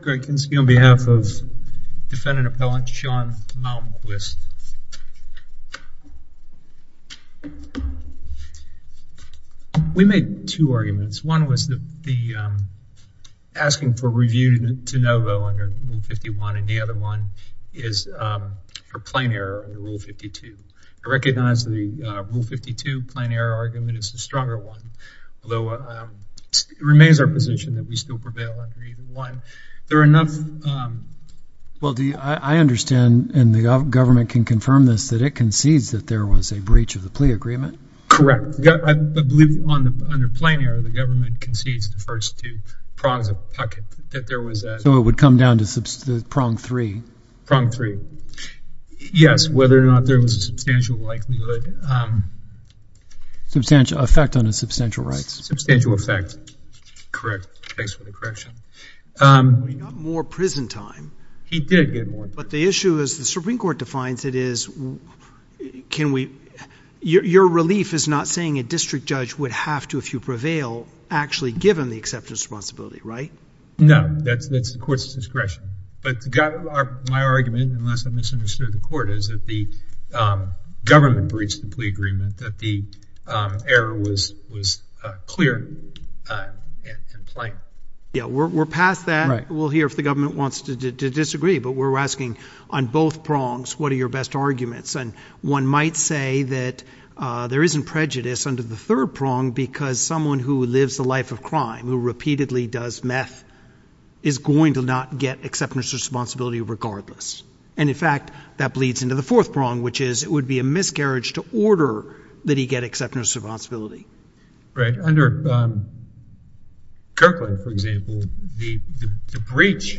Greg Kinski on behalf of defendant appellant Sean Malmquist. We made two arguments. One was the asking for review to NOVO under Rule 51 and the other one is for plain error under Rule 52. I recognize the Rule 52 plain error argument is the stronger one, although it remains our enough. Well, I understand, and the government can confirm this, that it concedes that there was a breach of the plea agreement. Correct. I believe under plain error, the government concedes the first two prongs of Puckett that there was a... So it would come down to prong three. Prong three. Yes. Whether or not there was a substantial likelihood. Substantial effect on his substantial rights. Substantial effect. Correct. Thanks for the correction. He got more prison time. He did get more. But the issue is, the Supreme Court defines it as, can we... Your relief is not saying a district judge would have to, if you prevail, actually give him the acceptance of responsibility, right? No. That's the court's discretion. But my argument, unless I misunderstood the court, is that the government breached the clear and plain. We're past that. We'll hear if the government wants to disagree, but we're asking on both prongs, what are your best arguments? One might say that there isn't prejudice under the third prong because someone who lives a life of crime, who repeatedly does meth, is going to not get acceptance of responsibility regardless. In fact, that bleeds into the fourth prong, which is, it would be a miscarriage to order that he get acceptance of responsibility. Right. Under Kirkland, for example, the breach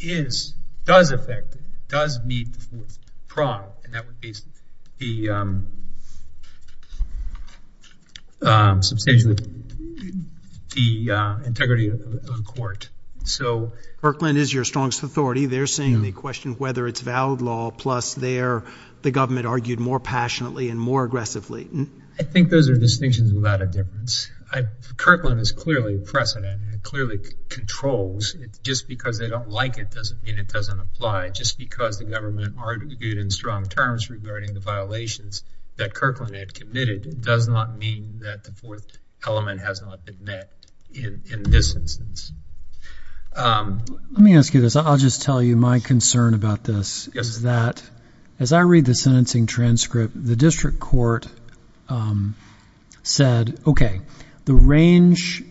is, does affect, does meet the fourth prong. And that would be the, substantially, the integrity of the court. So... Kirkland is your strongest authority. They're saying they question whether it's valid law, plus they're, the government argued more passionately and more aggressively. I think those are distinctions without a difference. Kirkland is clearly precedent and clearly controls. Just because they don't like it doesn't mean it doesn't apply. Just because the government argued in strong terms regarding the violations that Kirkland had committed does not mean that the fourth element has not been met in this instance. Let me ask you this. I'll just tell you my concern about this is that, as I read the sentencing transcript, the district court said, okay, the range,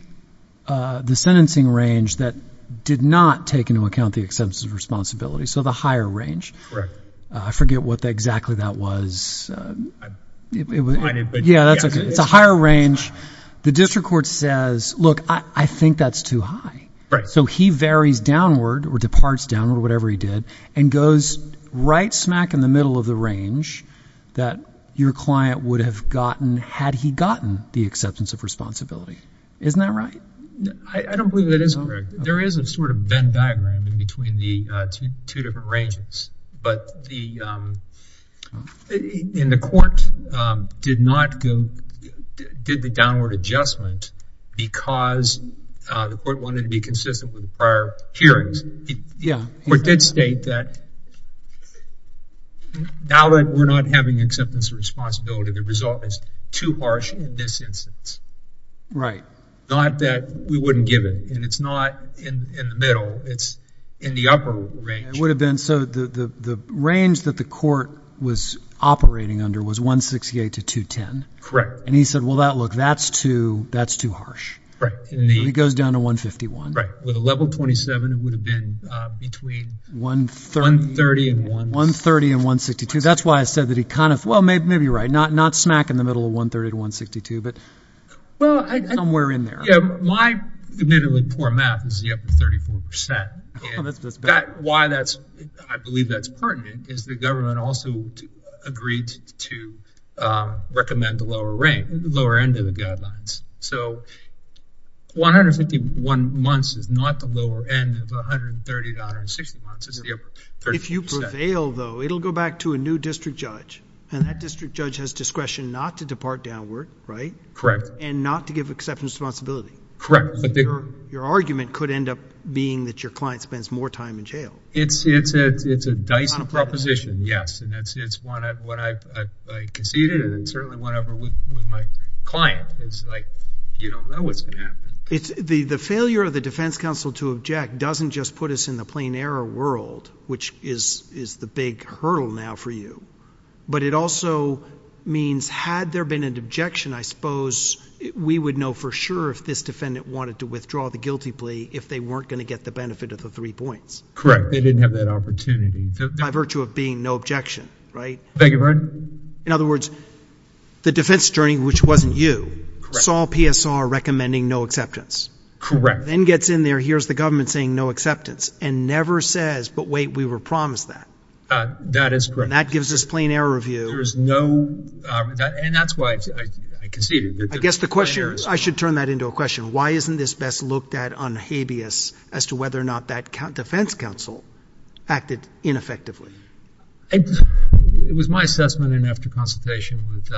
the sentencing range that did not take into account the acceptance of responsibility, so the higher range. Right. I forget what exactly that was. I didn't... Yeah, that's okay. It's a higher range. The district court says, look, I think that's too high. Right. So he varies downward or departs downward, whatever he did, and goes right smack in the range that your client would have gotten had he gotten the acceptance of responsibility. Isn't that right? I don't believe that is correct. There is a sort of Venn diagram in between the two different ranges, but the... And the court did the downward adjustment because the court wanted to be consistent with the prior hearings. Yeah. The court did state that now that we're not having acceptance of responsibility, the result is too harsh in this instance. Right. Not that we wouldn't give it, and it's not in the middle, it's in the upper range. It would have been, so the range that the court was operating under was 168 to 210. Correct. And he said, well, look, that's too harsh. Right. And he goes down to 151. Right. With a level 27, it would have been between 130 and 162. That's why I said that he kind of, well, maybe you're right. Not smack in the middle of 130 to 162, but somewhere in there. Yeah. My admittedly poor math is up to 34%. That's bad. Why I believe that's pertinent is the government also agreed to recommend the lower end of the guidelines. So 151 months is not the lower end of 130 to 160 months, it's the upper, 34%. If you prevail though, it'll go back to a new district judge, and that district judge has discretion not to depart downward, right? Correct. And not to give acceptance of responsibility. Correct. Your argument could end up being that your client spends more time in jail. It's a Dyson proposition, yes. And that's what I conceded, and it certainly went over with my client. It's like, you don't know what's going to happen. The failure of the defense counsel to object doesn't just put us in the plain error world, which is the big hurdle now for you, but it also means had there been an objection, I suppose we would know for sure if this defendant wanted to withdraw the guilty plea if they weren't going to get the benefit of the three points. Correct. They didn't have that opportunity. By virtue of being no objection, right? Thank you, Your Honor. In other words, the defense attorney, which wasn't you, saw PSR recommending no acceptance. Correct. Then gets in there, hears the government saying no acceptance, and never says, but wait, we were promised that. That is correct. And that gives us plain error view. There is no, and that's why I conceded. I guess the question, I should turn that into a question, why isn't this best looked at on habeas as to whether or not that defense counsel acted ineffectively? It was my assessment, and after consultation with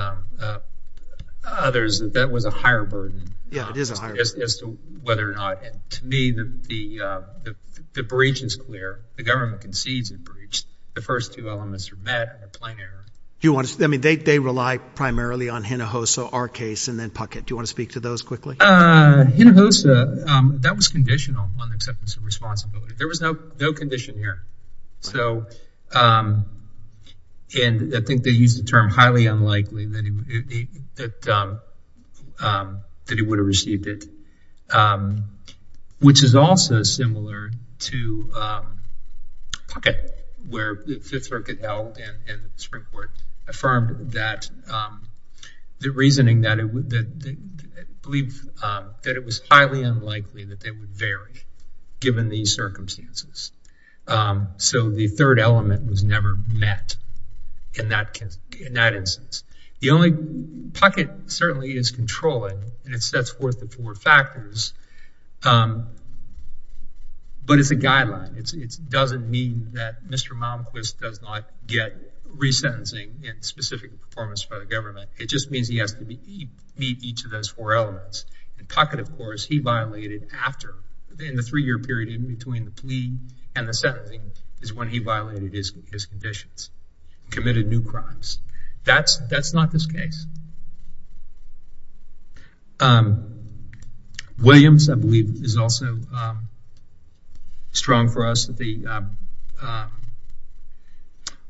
others, that that was a higher burden. Yeah, it is a higher burden. As to whether or not, to me, the breach is clear. The government concedes a breach. The first two elements are met in a plain error. I mean, they rely primarily on Hinojosa, our case, and then Puckett. Do you want to speak to those quickly? Hinojosa, that was conditional on the acceptance of responsibility. There was no condition here. So, and I think they used the term highly unlikely that he would have received it, which is also similar to Puckett, where Fifth Circuit held and Supreme Court affirmed that the reasoning that it was highly unlikely that they would vary given these circumstances. So, the third element was never met in that instance. The only, Puckett certainly is controlling, and it sets forth the four factors, but it's a guideline. It doesn't mean that Mr. Malmquist does not get resentencing in specific performance by the government. It just means he has to meet each of those four elements. And Puckett, of course, he violated after, in the three-year period in between the plea and the sentencing, is when he violated his conditions, committed new crimes. That's not this case. Williams, I believe, is also strong for us that the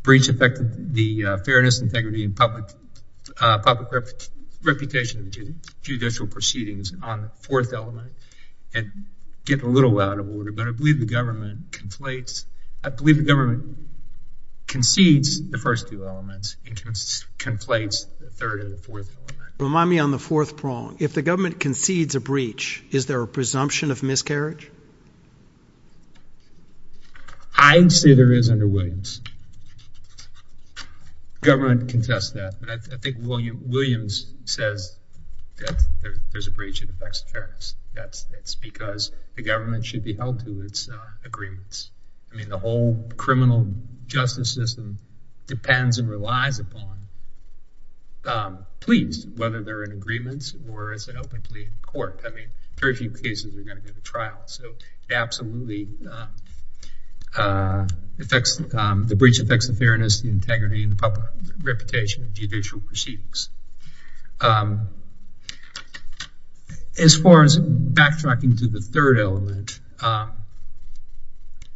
breach affected the fairness, integrity, and public reputation of judicial proceedings on the fourth element. And getting a little out of order, but I believe the government conflates, I believe the government concedes the first two elements and conflates the third and the fourth element. Remind me on the fourth prong. If the government concedes a breach, is there a presumption of miscarriage? I see there is under Williams. The government contests that. I think Williams says that there's a breach that affects fairness. That's because the government should be held to its agreements. I mean, the whole criminal justice system depends and relies upon pleas, whether they're in agreements or as an open plea in court. I mean, very few cases are going to get a trial. So absolutely, the breach affects the fairness, the integrity, and the reputation of judicial proceedings. As far as backtracking to the third element,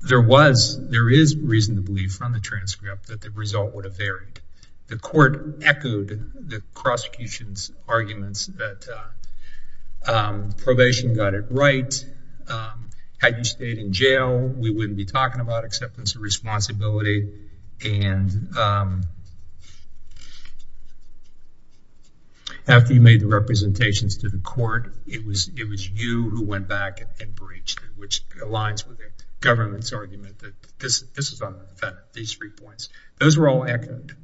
there is reason to believe from the transcript that the result would have varied. The court echoed the prosecution's arguments that probation got it right, had you stayed in jail, we wouldn't be talking about acceptance of responsibility, and after you made the representations to the court, it was you who went back and breached it, which aligns with the government's argument that this is unfair, these three points. Those were all echoed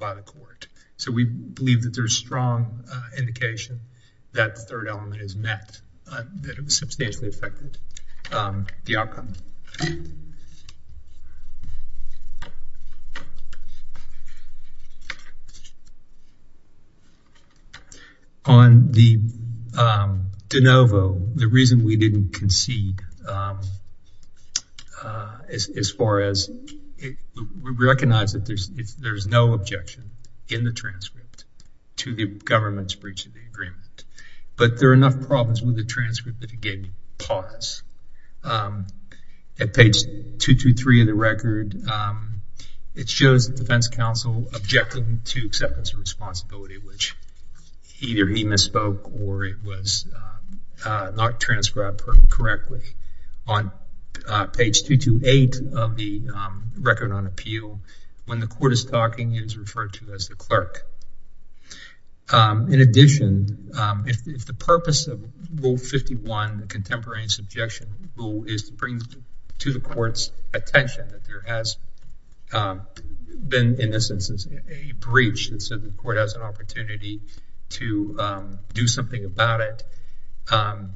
by the court. So we believe that there's strong indication that the third element is met, that it substantially affected the outcome. On the de novo, the reason we didn't concede as far as we recognize that there's no objection in the transcript but there are enough problems with the transcript that it gave me pause. At page 223 of the record, it shows the defense counsel objecting to acceptance of responsibility, which either he misspoke or it was not transcribed correctly. On page 228 of the record on appeal, when the court is talking, it is referred to as the clerk. In addition, if the purpose of Rule 51, the Contemporary Subjection Rule, is to bring to the court's attention that there has been, in this instance, a breach and so the court has an opportunity to do something about it, I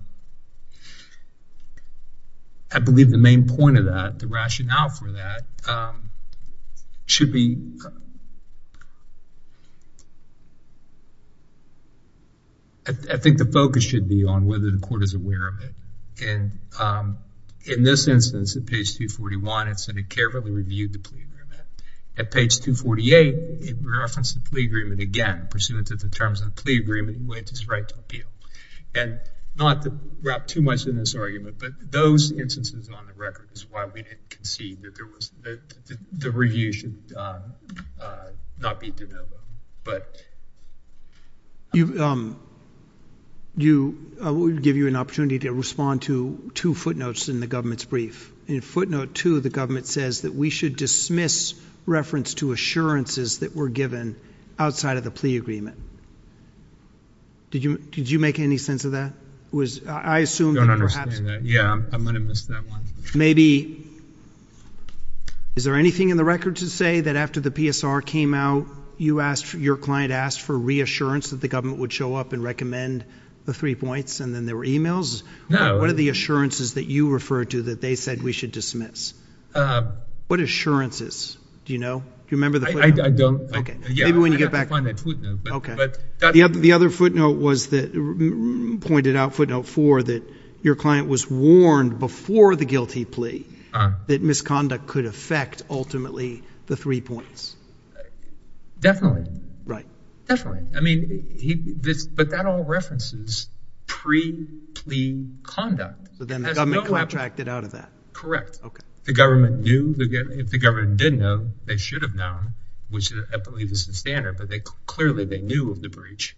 believe the main point of that, the rationale for that, should be, I think the focus should be on whether the court is aware of it. And in this instance, at page 241, it said it carefully reviewed the plea agreement. At page 248, it referenced the plea agreement again, pursuant to the terms of the plea agreement, which is right to appeal. And not to wrap too much in this argument, but those instances on the record is why we didn't concede that the review should not be developed. I would give you an opportunity to respond to two footnotes in the government's brief. In footnote two, the government says that we should dismiss reference to assurances that were given outside of the plea agreement. Did you make any sense of that? I don't understand that. Yeah, I'm going to miss that one. Maybe, is there anything in the record to say that after the PSR came out, your client asked for reassurance that the government would show up and recommend the three points and then there were emails? No. What are the assurances that you referred to that they said we should dismiss? What assurances? Do you know? Do you remember the footnote? I don't. Maybe when you get back. I have to find that footnote. Okay. The other footnote was that, pointed out footnote four, that your client was warned before the guilty plea that misconduct could affect ultimately the three points. Definitely. Right. Definitely. I mean, but that all references pre-plea conduct. So then the government contracted out of that. Correct. The government knew. If the government didn't know, they should have known, which I believe is the standard, but clearly they knew of the breach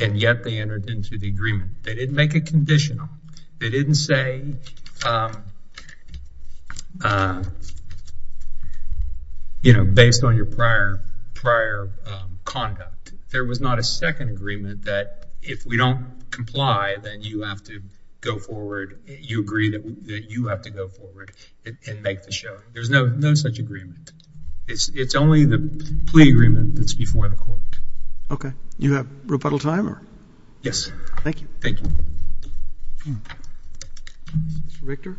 and yet they entered into the agreement. They didn't make a conditional. They didn't say, you know, based on your prior conduct. There was not a second agreement that if we don't comply, then you have to go forward. You agree that you have to go forward and make the showing. There's no such agreement. It's only the plea agreement that's before the court. Okay. You have rebuttal time? Yes. Thank you. Thank you. Mr. Richter.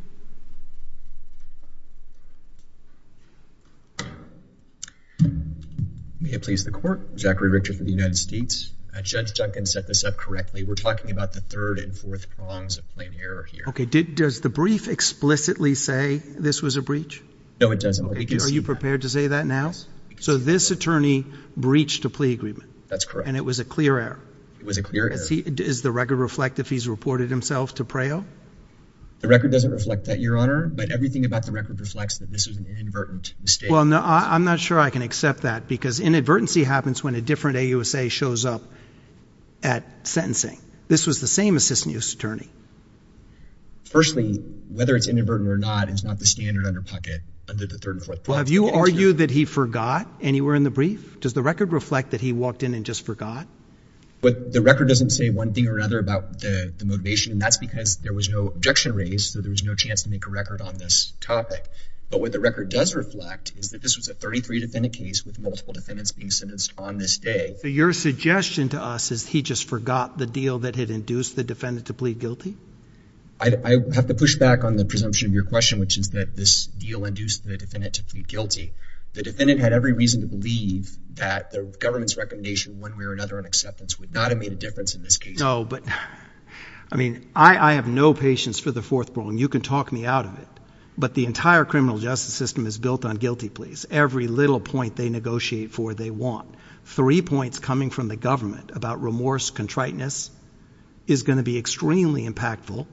May it please the court. Zachary Richter for the United States. Judge Duncan set this up correctly. We're talking about the third and fourth prongs of plain error here. Okay. Does the brief explicitly say this was a breach? No, it doesn't. Are you prepared to say that now? So this attorney breached a plea agreement. That's correct. And it was a clear error. It was a clear error. Does the record reflect if he's reported himself to PREO? The record doesn't reflect that, Your Honor. But everything about the record reflects that this was an inadvertent mistake. Well, no, I'm not sure I can accept that. Because inadvertency happens when a different AUSA shows up at sentencing. This was the same assistant U.S. attorney. Firstly, whether it's inadvertent or not is not the standard under pocket under the third and fourth prongs. Have you argued that he forgot anywhere in the brief? Does the record reflect that he walked in and just forgot? The record doesn't say one thing or another about the motivation, and that's because there was no objection raised, so there was no chance to make a record on this topic. But what the record does reflect is that this was a 33-defendant case with multiple defendants being sentenced on this day. So your suggestion to us is he just forgot the deal that had induced the defendant to plead guilty? I have to push back on the presumption of your question, which is that this deal induced the defendant to plead guilty. The defendant had every reason to believe that the government's would not have made a difference in this case. No, but, I mean, I have no patience for the fourth prong. You can talk me out of it. But the entire criminal justice system is built on guilty pleas. Every little point they negotiate for, they want. Three points coming from the government about remorse, contriteness, is going to be extremely impactful.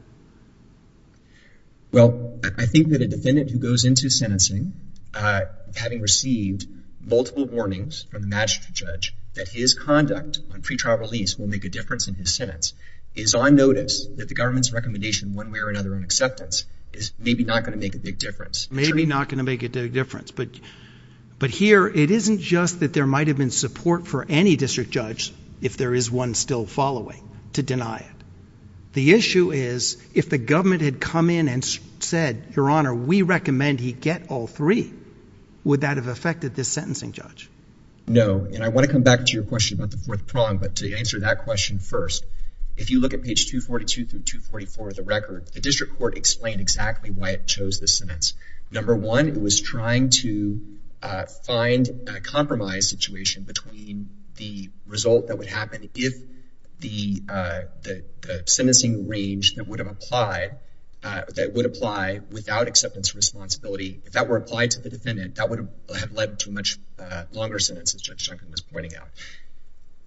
Well, I think that a defendant who goes into sentencing, having received multiple warnings from the magistrate judge that his conduct on pretrial release will make a difference in his sentence, is on notice that the government's recommendation in one way or another on acceptance is maybe not going to make a big difference. Maybe not going to make a big difference. But here, it isn't just that there might have been support for any district judge, if there is one still following, to deny it. The issue is, if the government had come in and said, Your Honor, we recommend he get all three, would that have affected this sentencing judge? No. And I want to come back to your question about the fourth prong, but to answer that question first, if you look at page 242 through 244 of the record, the district court explained exactly why it chose this sentence. Number one, it was trying to find a compromise situation between the result that would happen if the sentencing range that would apply without acceptance responsibility, if that were applied to the defendant, that would have led to much longer sentences, Judge Duncan was pointing out.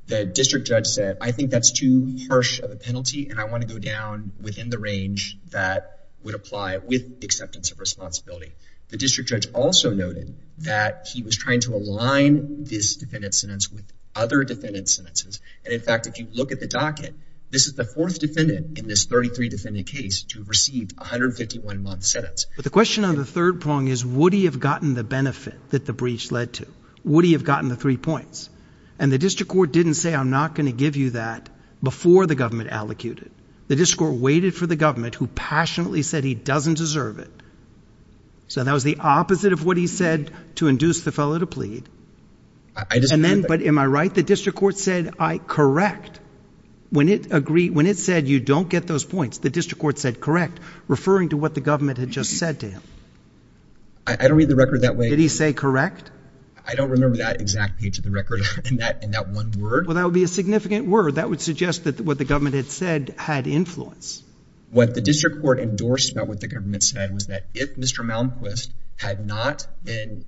The district judge said, I think that's too harsh of a penalty, and I want to go down within the range that would apply with acceptance of responsibility. The district judge also noted that he was trying to align this defendant's sentence with other defendant's sentences. And in fact, if you look at the docket, this is the fourth defendant in this 33-defendant case to have received a 151-month sentence. But the question on the third prong is, would he have gotten the benefit that the breach led to? Would he have gotten the three points? And the district court didn't say, I'm not going to give you that before the government allocated. The district court waited for the government who passionately said he doesn't deserve it. So that was the opposite of what he said to induce the fellow to plead. But am I right? The district court said, correct. When it said you don't get those points, the district court said correct, referring to what the government had just said to him. I don't read the record that way. Did he say correct? I don't remember that exact page of the record in that one word. Well, that would be a significant word. That would suggest that what the government had said had influence. What the district court endorsed about what the government said was that if Mr. Malmquist had not been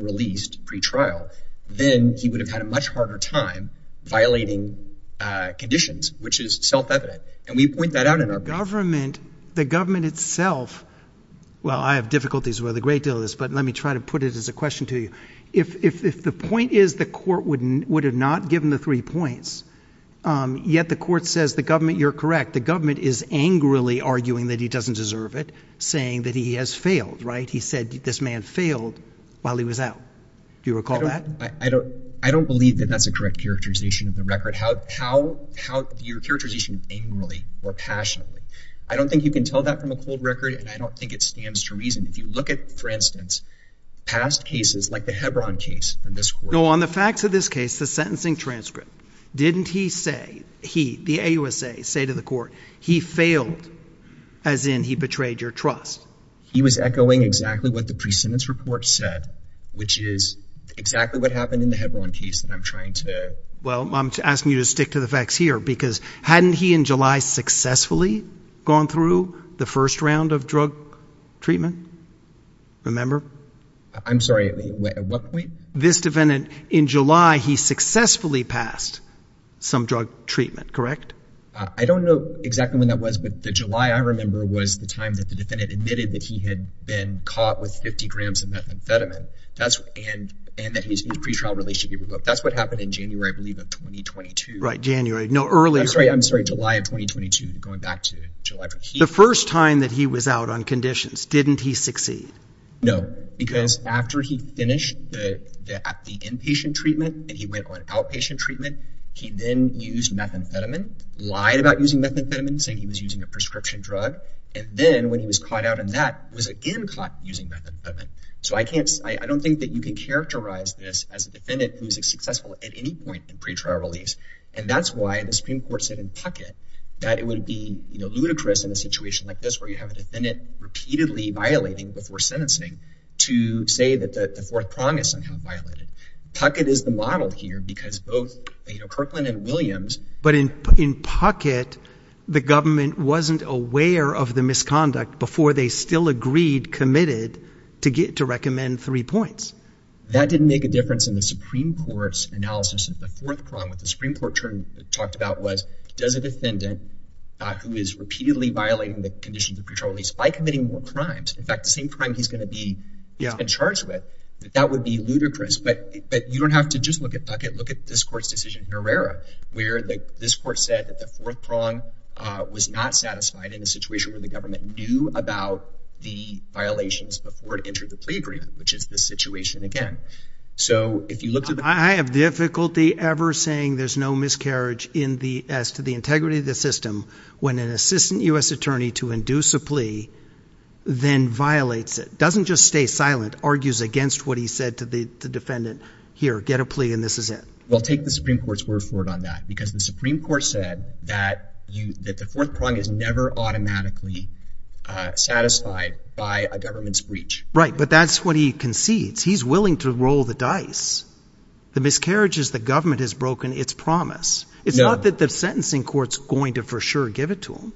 released pre-trial, then he would have had a much harder time violating conditions, which is self-evident. And we point that out in our brief. The government itself, well, I have difficulties with a great deal of this, but let me try to put it as a question to you. If the point is the court would have not given the three points, yet the court says the government, you're correct, the government is angrily arguing that he doesn't deserve it, saying that he has failed, right? He said this man failed while he was out. Do you recall that? I don't believe that that's a correct characterization of the record. Your characterization of angrily or passionately, I don't think you can tell that from a cold record, and I don't think it stands to reason. If you look at, for instance, past cases like the Hebron case in this court. No, on the facts of this case, the sentencing transcript, didn't he say, he, the AUSA, say to the court, he failed as in he betrayed your trust? He was echoing exactly what the pre-sentence report said, which is exactly what happened in the Hebron case that I'm trying to. Well, I'm asking you to stick to the facts here, because hadn't he in July successfully gone through the first round of drug treatment? Remember? I'm sorry, at what point? This defendant in July, he successfully passed some drug treatment, correct? I don't know exactly when that was, but the July I remember was the time that the defendant admitted that he had been caught with 50 grams of methamphetamine, and that his pre-trial release should be revoked. That's what happened in January, I believe, of 2022. Right, January. No, earlier. I'm sorry, July of 2022, going back to July. The first time that he was out on conditions, didn't he succeed? No, because after he finished the inpatient treatment and he went on outpatient treatment, he then used methamphetamine, lied about using methamphetamine, saying he was using a prescription drug. And then when he was caught out in that, was again caught using methamphetamine. So I don't think that you can characterize this as a defendant who is successful at any point in pre-trial release. And that's why the Supreme Court said in Puckett that it would be ludicrous in a situation like this where you have a defendant repeatedly violating before sentencing to say that the Fourth Prong is somehow violated. Puckett is the model here because both Kirkland and Williams... But in Puckett, the government wasn't aware of the misconduct before they still agreed, committed, to recommend three points. That didn't make a difference in the Supreme Court's analysis of the Fourth Prong. What the Supreme Court talked about was, does a defendant who is repeatedly violating the conditions of pre-trial release, by committing more crimes, in fact, the same crime he's going to be charged with, that that would be ludicrous. But you don't have to just look at Puckett. Look at this Court's decision in Herrera where this Court said that the Fourth Prong was not satisfied in a situation where the government knew about the violations before it entered the plea agreement, which is this situation again. I have difficulty ever saying there's no miscarriage as to the integrity of the system when an assistant U.S. attorney to induce a plea then violates it. Doesn't just stay silent, argues against what he said to the defendant. Here, get a plea and this is it. Well, take the Supreme Court's word for it on that because the Supreme Court said that the Fourth Prong is never automatically satisfied by a government's breach. Right, but that's what he concedes. He's willing to roll the dice. The miscarriage is the government has broken its promise. It's not that the sentencing court's going to for sure give it to him.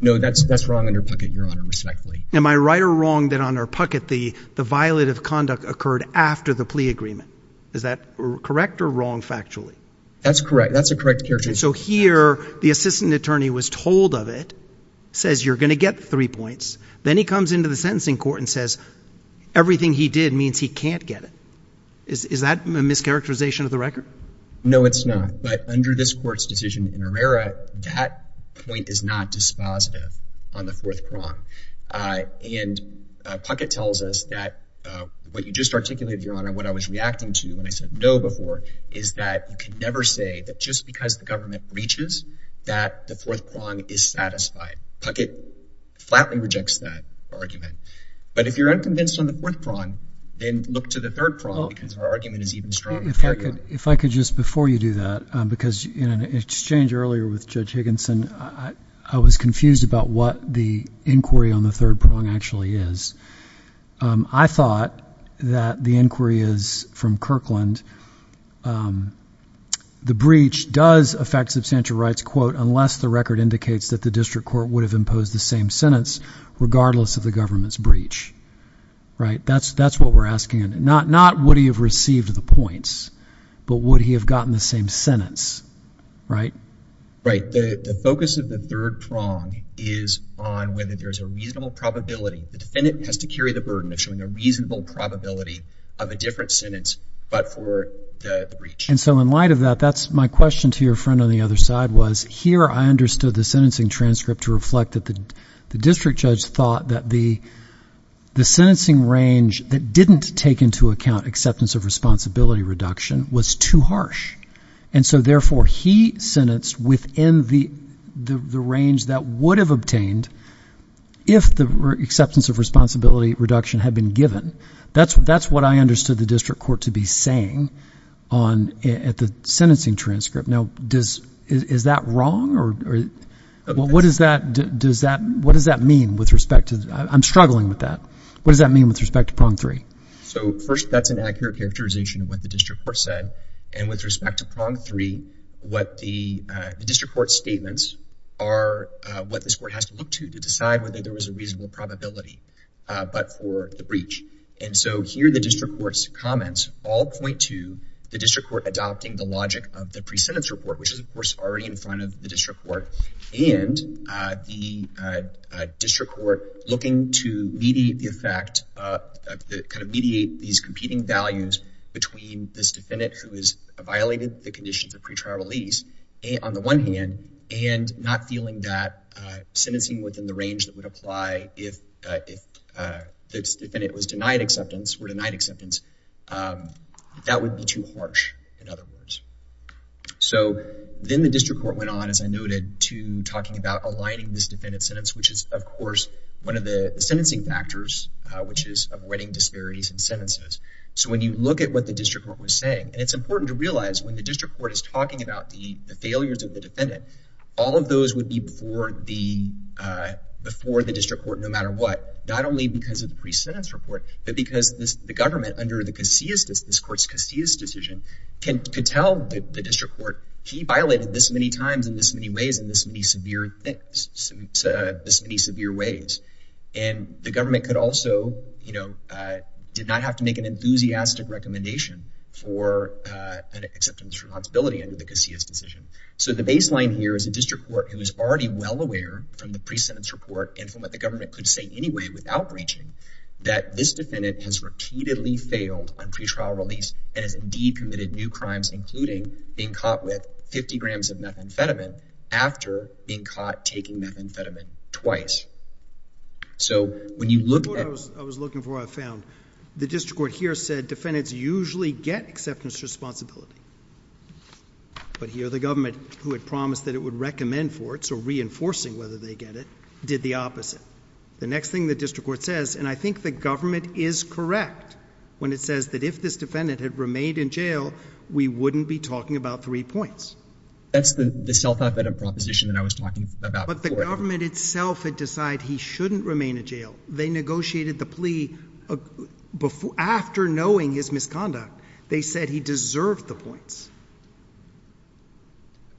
No, that's wrong under Puckett, Your Honor, respectfully. Am I right or wrong that under Puckett the violative conduct occurred after the plea agreement? Is that correct or wrong factually? That's correct. That's the correct character. So here the assistant attorney was told of it, says you're going to get three points. Then he comes into the sentencing court and says everything he did means he can't get it. Is that a mischaracterization of the record? No, it's not, but under this court's decision in Herrera that point is not dispositive on the Fourth Prong. And Puckett tells us that what you just articulated, Your Honor, what I was reacting to when I said no before is that you can never say that just because the government breaches that the Fourth Prong is satisfied. Puckett flatly rejects that argument. But if you're unconvinced on the Fourth Prong, then look to the Third Prong because our argument is even stronger. If I could just, before you do that, because in an exchange earlier with Judge Higginson, I was confused about what the inquiry on the Third Prong actually is. I thought that the inquiry is from Kirkland. The breach does affect substantial rights, quote, unless the record indicates that the district court would have imposed the same sentence regardless of the government's breach, right? That's what we're asking. Not would he have received the points, but would he have gotten the same sentence, right? Right. The focus of the Third Prong is on whether there's a reasonable probability the defendant has to carry the burden of showing a reasonable probability of a different sentence but for the breach. And so in light of that, that's my question to your friend on the other side was here I understood the sentencing transcript to reflect that the district judge thought that the sentencing range that didn't take into account acceptance of responsibility reduction was too harsh. And so therefore he sentenced within the range that would have obtained if the acceptance of responsibility reduction had been given. That's what I understood the district court to be saying at the sentencing transcript. Now, is that wrong? What does that mean with respect to – I'm struggling with that. What does that mean with respect to Prong 3? So first, that's an accurate characterization of what the district court said. And with respect to Prong 3, what the district court statements are, what this court has to look to to decide whether there was a reasonable probability but for the breach. And so here the district court's comments all point to the district court adopting the logic of the pre-sentence report, which is, of course, already in front of the district court, and the district court looking to mediate the effect, kind of mediate these competing values between this defendant who has violated the conditions of pretrial release on the one hand and not feeling that sentencing within the range that would apply if this defendant was denied acceptance or denied acceptance, that would be too harsh, in other words. So then the district court went on, as I noted, to talking about aligning this defendant's sentence, which is, of course, one of the sentencing factors, which is of wedding disparities in sentences. So when you look at what the district court was saying, and it's important to realize when the district court is talking about the failures of the defendant, all of those would be before the district court no matter what, not only because of the pre-sentence report but because the government under this court's Casillas decision could tell the district court, he violated this many times in this many ways in this many severe ways. And the government could also, you know, did not have to make an enthusiastic recommendation for an acceptance responsibility under the Casillas decision. So the baseline here is a district court who is already well aware from the pre-sentence report and from what the government could say anyway without breaching that this defendant has repeatedly failed on pretrial release and has indeed committed new crimes, including being caught with 50 grams of methamphetamine after being caught taking methamphetamine twice. So when you look at... The report I was looking for, I found, the district court here said defendants usually get acceptance responsibility. But here the government, who had promised that it would recommend for it, so reinforcing whether they get it, did the opposite. The next thing the district court says, and I think the government is correct when it says that if this defendant had remained in jail, we wouldn't be talking about three points. That's the self-evident proposition that I was talking about before. But the government itself had decided he shouldn't remain in jail. They negotiated the plea after knowing his misconduct. They said he deserved the points.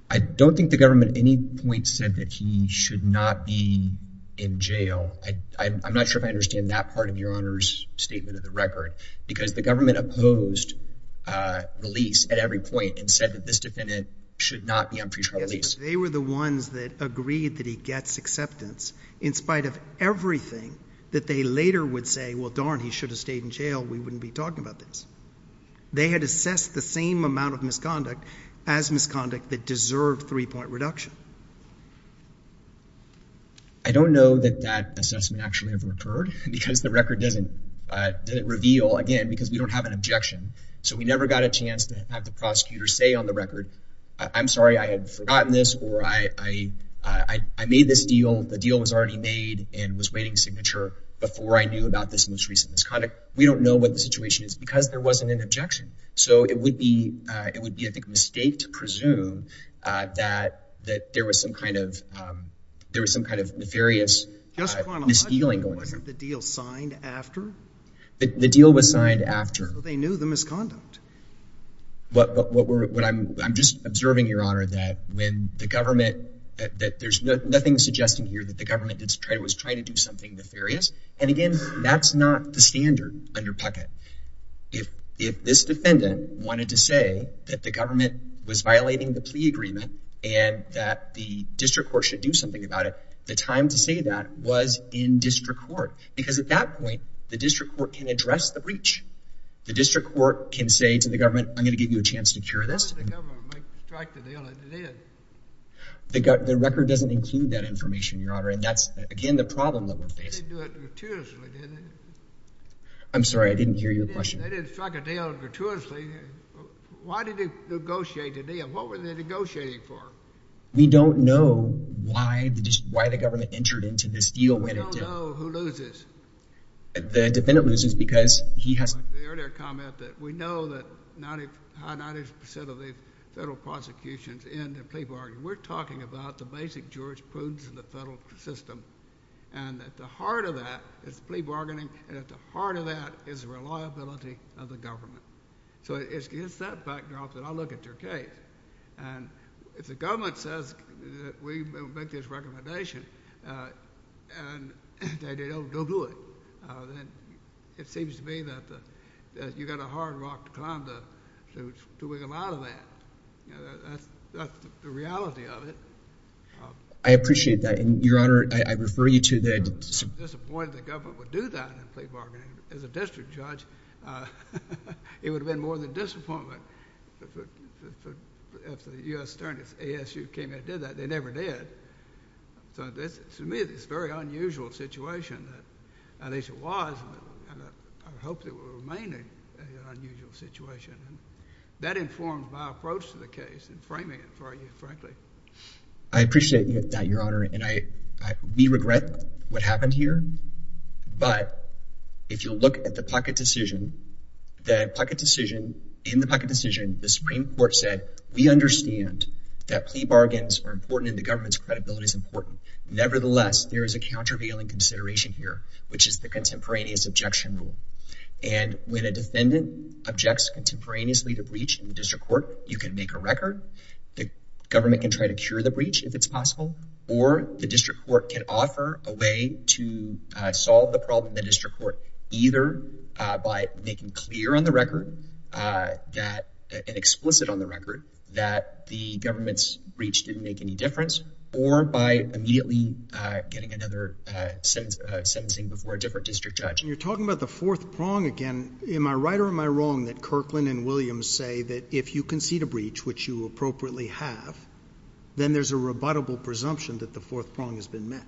I don't think the government at any point said that he should not be in jail. I'm not sure if I understand that part of Your Honor's statement of the record because the government opposed release at every point and said that this defendant should not be on pretrial release. They were the ones that agreed that he gets acceptance in spite of everything that they later would say, well, darn, he should have stayed in jail, we wouldn't be talking about this. They had assessed the same amount of misconduct as misconduct that deserved three-point reduction. I don't know that that assessment actually ever occurred because the record doesn't reveal, again, because we don't have an objection. So we never got a chance to have the prosecutor say on the record, I'm sorry, I had forgotten this or I made this deal, the deal was already made and was waiting signature before I knew about this most recent misconduct. We don't know what the situation is because there wasn't an objection. So it would be a mistake to presume that there was some kind of nefarious misdealing going on. The deal was signed after? The deal was signed after. So they knew the misconduct. I'm just observing, Your Honor, that when the government, that there's nothing suggesting here that the government was trying to do something nefarious. And again, that's not the standard under Puckett. If this defendant wanted to say that the government was violating the plea agreement and that the district court should do something about it, the time to say that was in district court because at that point, the district court can address the breach. The district court can say to the government, I'm going to give you a chance to cure this. How did the government strike a deal and it did? The record doesn't include that information, Your Honor. And that's, again, the problem that we're facing. They didn't do it gratuitously, did they? I'm sorry, I didn't hear your question. They didn't strike a deal gratuitously. Why did they negotiate a deal? What were they negotiating for? We don't know why the government entered into this deal when it did. We don't know who loses. The defendant loses because he has... The earlier comment that we know that 90% of the federal prosecutions end in plea bargaining, we're talking about the basic jurisprudence in the federal system. And at the heart of that is plea bargaining, and at the heart of that is reliability of the government. So it's that backdrop that I look at your case. And if the government says that we make this recommendation and they don't do it, then it seems to me that you've got a hard rock to climb to wiggle out of that. You know, that's the reality of it. I appreciate that. And, Your Honor, I refer you to the... I'm disappointed the government would do that in plea bargaining. As a district judge, it would have been more than disappointment if the U.S. Attorney's ASU came in and did that. They never did. So to me, it's a very unusual situation. At least it was, and I hope it will remain an unusual situation. That informed my approach to the case and framing it for you, frankly. I appreciate that, Your Honor. And we regret what happened here. But if you look at the pocket decision, the pocket decision... In the pocket decision, the Supreme Court said, We understand that plea bargains are important and the government's credibility is important. Nevertheless, there is a countervailing consideration here, which is the contemporaneous objection rule. And when a defendant objects contemporaneously to breach in the district court, you can make a record. The government can try to cure the breach, if it's possible. Or the district court can offer a way to solve the problem in the district court, either by making clear on the record that... that the government's breach didn't make any difference, or by immediately getting another sentencing before a different district judge. You're talking about the fourth prong again. Am I right or am I wrong that Kirkland and Williams say that if you concede a breach, which you appropriately have, then there's a rebuttable presumption that the fourth prong has been met?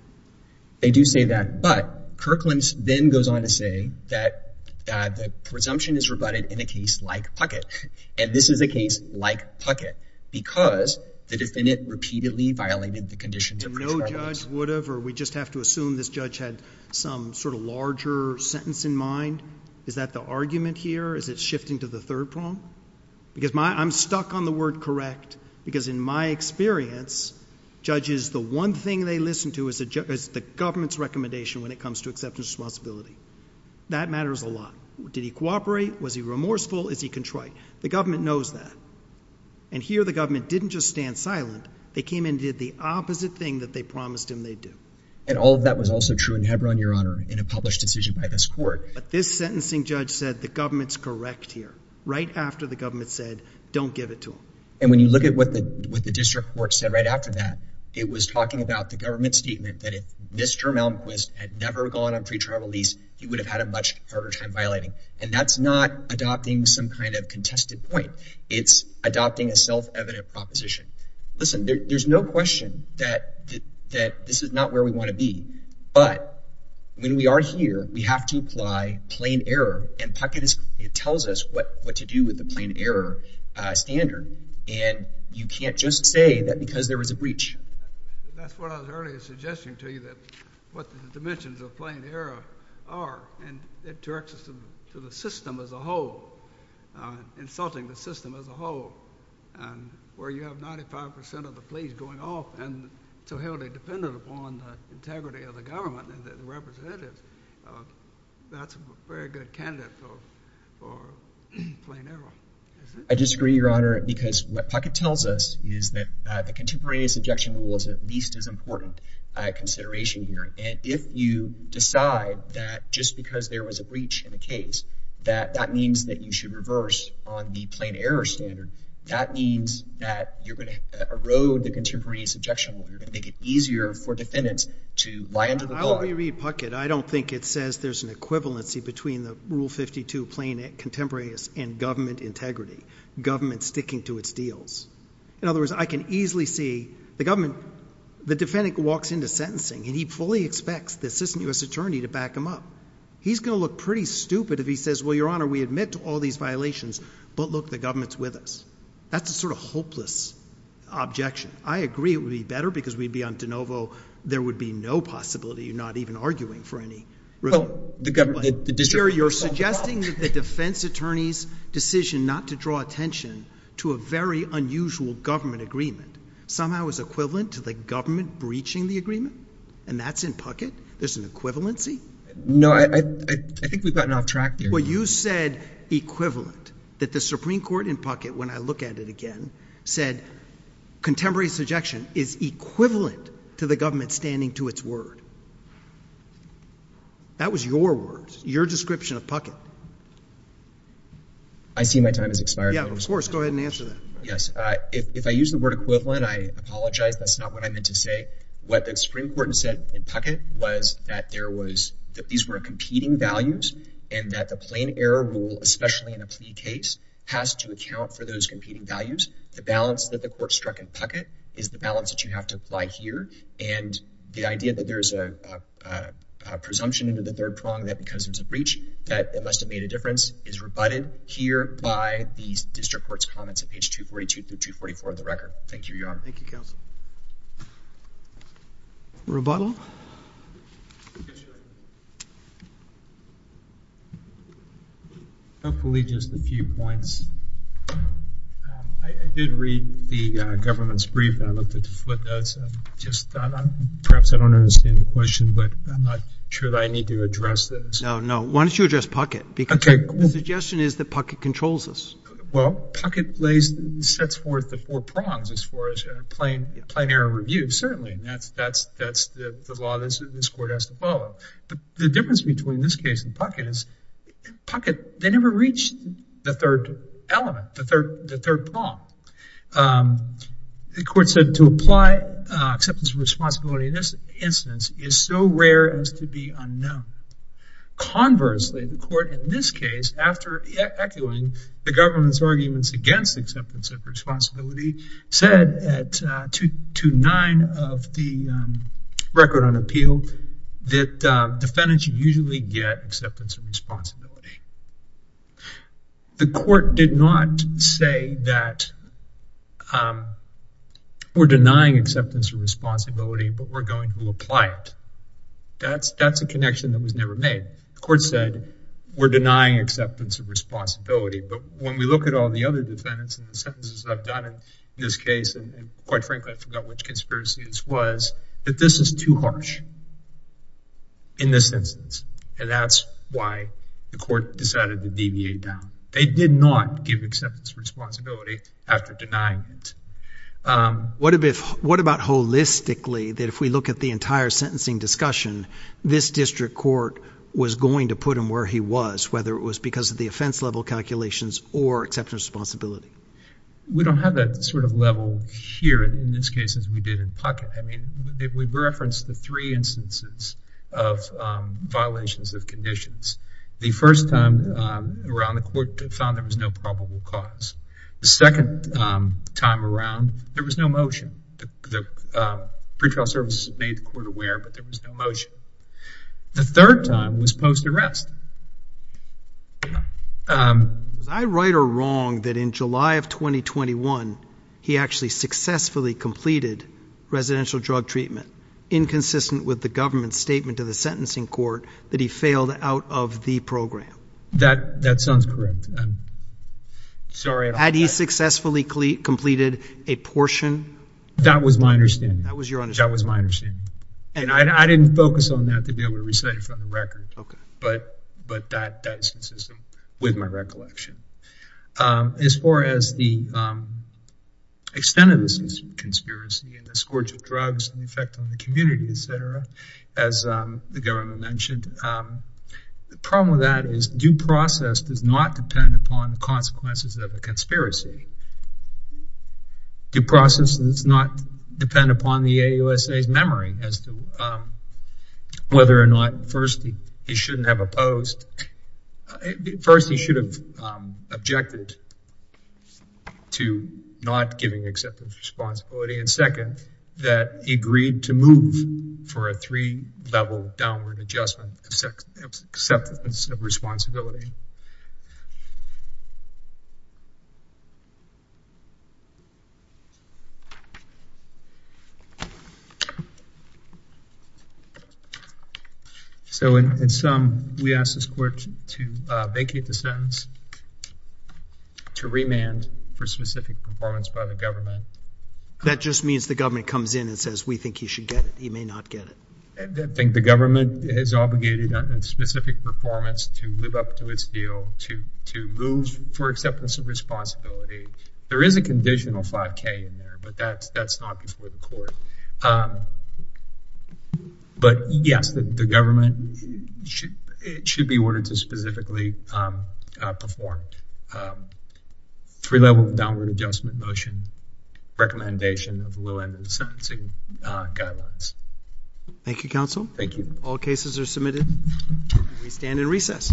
They do say that. But Kirkland then goes on to say that the presumption is rebutted in a case like Puckett. And this is a case like Puckett, because the defendant repeatedly violated the condition to... No judge would have, or we just have to assume this judge had some sort of larger sentence in mind. Is that the argument here? Is it shifting to the third prong? Because I'm stuck on the word correct, because in my experience, judges, the one thing they listen to is the government's recommendation when it comes to acceptance of responsibility. That matters a lot. Did he cooperate? Was he remorseful? Is he contrite? The government knows that. And here the government didn't just stand silent. They came and did the opposite thing that they promised him they'd do. And all of that was also true in Hebron, Your Honor, in a published decision by this court. But this sentencing judge said the government's correct here right after the government said don't give it to him. And when you look at what the district court said right after that, it was talking about the government's statement that if Mr. Malmquist had never gone on pre-trial release, he would have had a much harder time violating. And that's not adopting some kind of contested point. It's adopting a self-evident proposition. Listen, there's no question that this is not where we want to be. But when we are here, we have to apply plain error. And Puckett tells us what to do with the plain error standard. And you can't just say that because there was a breach. That's what I was earlier suggesting to you, that what the dimensions of plain error are. And it directs us to the system as a whole, insulting the system as a whole, where you have 95% of the police going off and so held independent upon the integrity of the government and the representatives. That's a very good candidate for plain error. I disagree, Your Honor, because what Puckett tells us is that the contemporaneous objection rule is at least as important a consideration here. And if you decide that just because there was a breach in the case, that that means that you should reverse on the plain error standard, that means that you're going to erode the contemporaneous objection rule. You're going to make it easier for defendants to lie under the law. I'll re-read Puckett. I don't think it says there's an equivalency between the Rule 52 plain contemporaneous and government integrity, government sticking to its deals. In other words, I can easily see the government, the defendant walks into sentencing and he fully expects the assistant US attorney to back him up. He's going to look pretty stupid if he says, well, Your Honor, we admit to all these violations, but look, the government's with us. That's a sort of hopeless objection. I agree it would be better because we'd be on de novo. There would be no possibility of not even arguing for any. Well, the district court's on the call. You're suggesting that the defense attorney's decision not to draw attention to a very unusual government agreement somehow is equivalent to the government breaching the agreement? And that's in Puckett? There's an equivalency? No, I think we've gotten off track here. Well, you said equivalent, that the Supreme Court in Puckett, when I look at it again, said contemporary subjection is equivalent to the government standing to its word. That was your words, your description of Puckett. I see my time has expired. Yeah, of course. Go ahead and answer that. Yes. If I use the word equivalent, I apologize. That's not what I meant to say. What the Supreme Court said in Puckett was that these were competing values and that the plain error rule, especially in a plea case, has to account for those competing values. The balance that the court struck in Puckett is the balance that you have to apply here. And the idea that there's a presumption into the third prong that because it's a breach that it must have made a difference is rebutted here by the district court's comments at page 242 through 244 of the record. Thank you, Your Honor. Thank you, Counsel. Rebuttal? Hopefully just a few points. I did read the government's brief and I looked at the footnotes. Perhaps I don't understand the question, but I'm not sure that I need to address this. No, no. Why don't you address Puckett? Because the suggestion is that Puckett controls this. Well, Puckett sets forth the four prongs as far as plain error review, certainly. That's the law this court has to follow. But the difference between this case and Puckett is Puckett, they never reached the third element, the third prong. The court said to apply acceptance of responsibility in this instance is so rare as to be unknown. Conversely, the court in this case, after echoing the government's arguments against acceptance of responsibility, said at 229 of the record on appeal that defendants usually get acceptance of responsibility. The court did not say that we're denying acceptance of responsibility, but we're going to apply it. That's a connection that was never made. The court said, we're denying acceptance of responsibility. But when we look at all the other defendants and the sentences I've done in this case, and quite frankly, I forgot which conspiracy this was, that this is too harsh in this instance. And that's why the court decided to deviate down. They did not give acceptance of responsibility after denying it. What about holistically, that if we look at the entire sentencing discussion, this district court was going to put him where he was, whether it was because of the offense level calculations or acceptance of responsibility? We don't have that sort of level here in this case as we did in Puckett. I mean, we've referenced the three instances of violations of conditions. The first time around, the court found there was no probable cause. The second time around, there was no motion. The pretrial services made the court aware, but there was no motion. The third time was post-arrest. Was I right or wrong that in July of 2021, he actually successfully completed residential drug treatment, inconsistent with the government's statement to the sentencing court that he failed out of the program? That sounds correct. Sorry. Had he successfully completed a portion? That was my understanding. That was your understanding? That was my understanding. And I didn't focus on that to be able to recite it from the record. OK. But that is consistent with my recollection. As far as the extent of this conspiracy and the scourge of drugs and the effect on the community, et cetera, as the government mentioned, the problem with that is due process does not depend upon the consequences of a conspiracy. Due process does not depend upon the AUSA's memory as to whether or not, first, he shouldn't have opposed. First, he should have objected to not giving acceptance of responsibility. And second, that he agreed to move for a three-level downward adjustment of acceptance of responsibility. So in sum, we ask this court to vacate the sentence, to remand for specific performance by the government. That just means the government comes in and says, we think he should get it. He may not get it. I think the government is obligated on its specific performance to live up to its deal, to move for acceptance of responsibility, to move for acceptance of responsibility, There is a conditional 5k in there, but that's not before the court. But yes, the government, it should be ordered to specifically perform three-level downward adjustment motion recommendation of low end of the sentencing guidelines. Thank you, counsel. Thank you. All cases are submitted. We stand in recess. Thank you.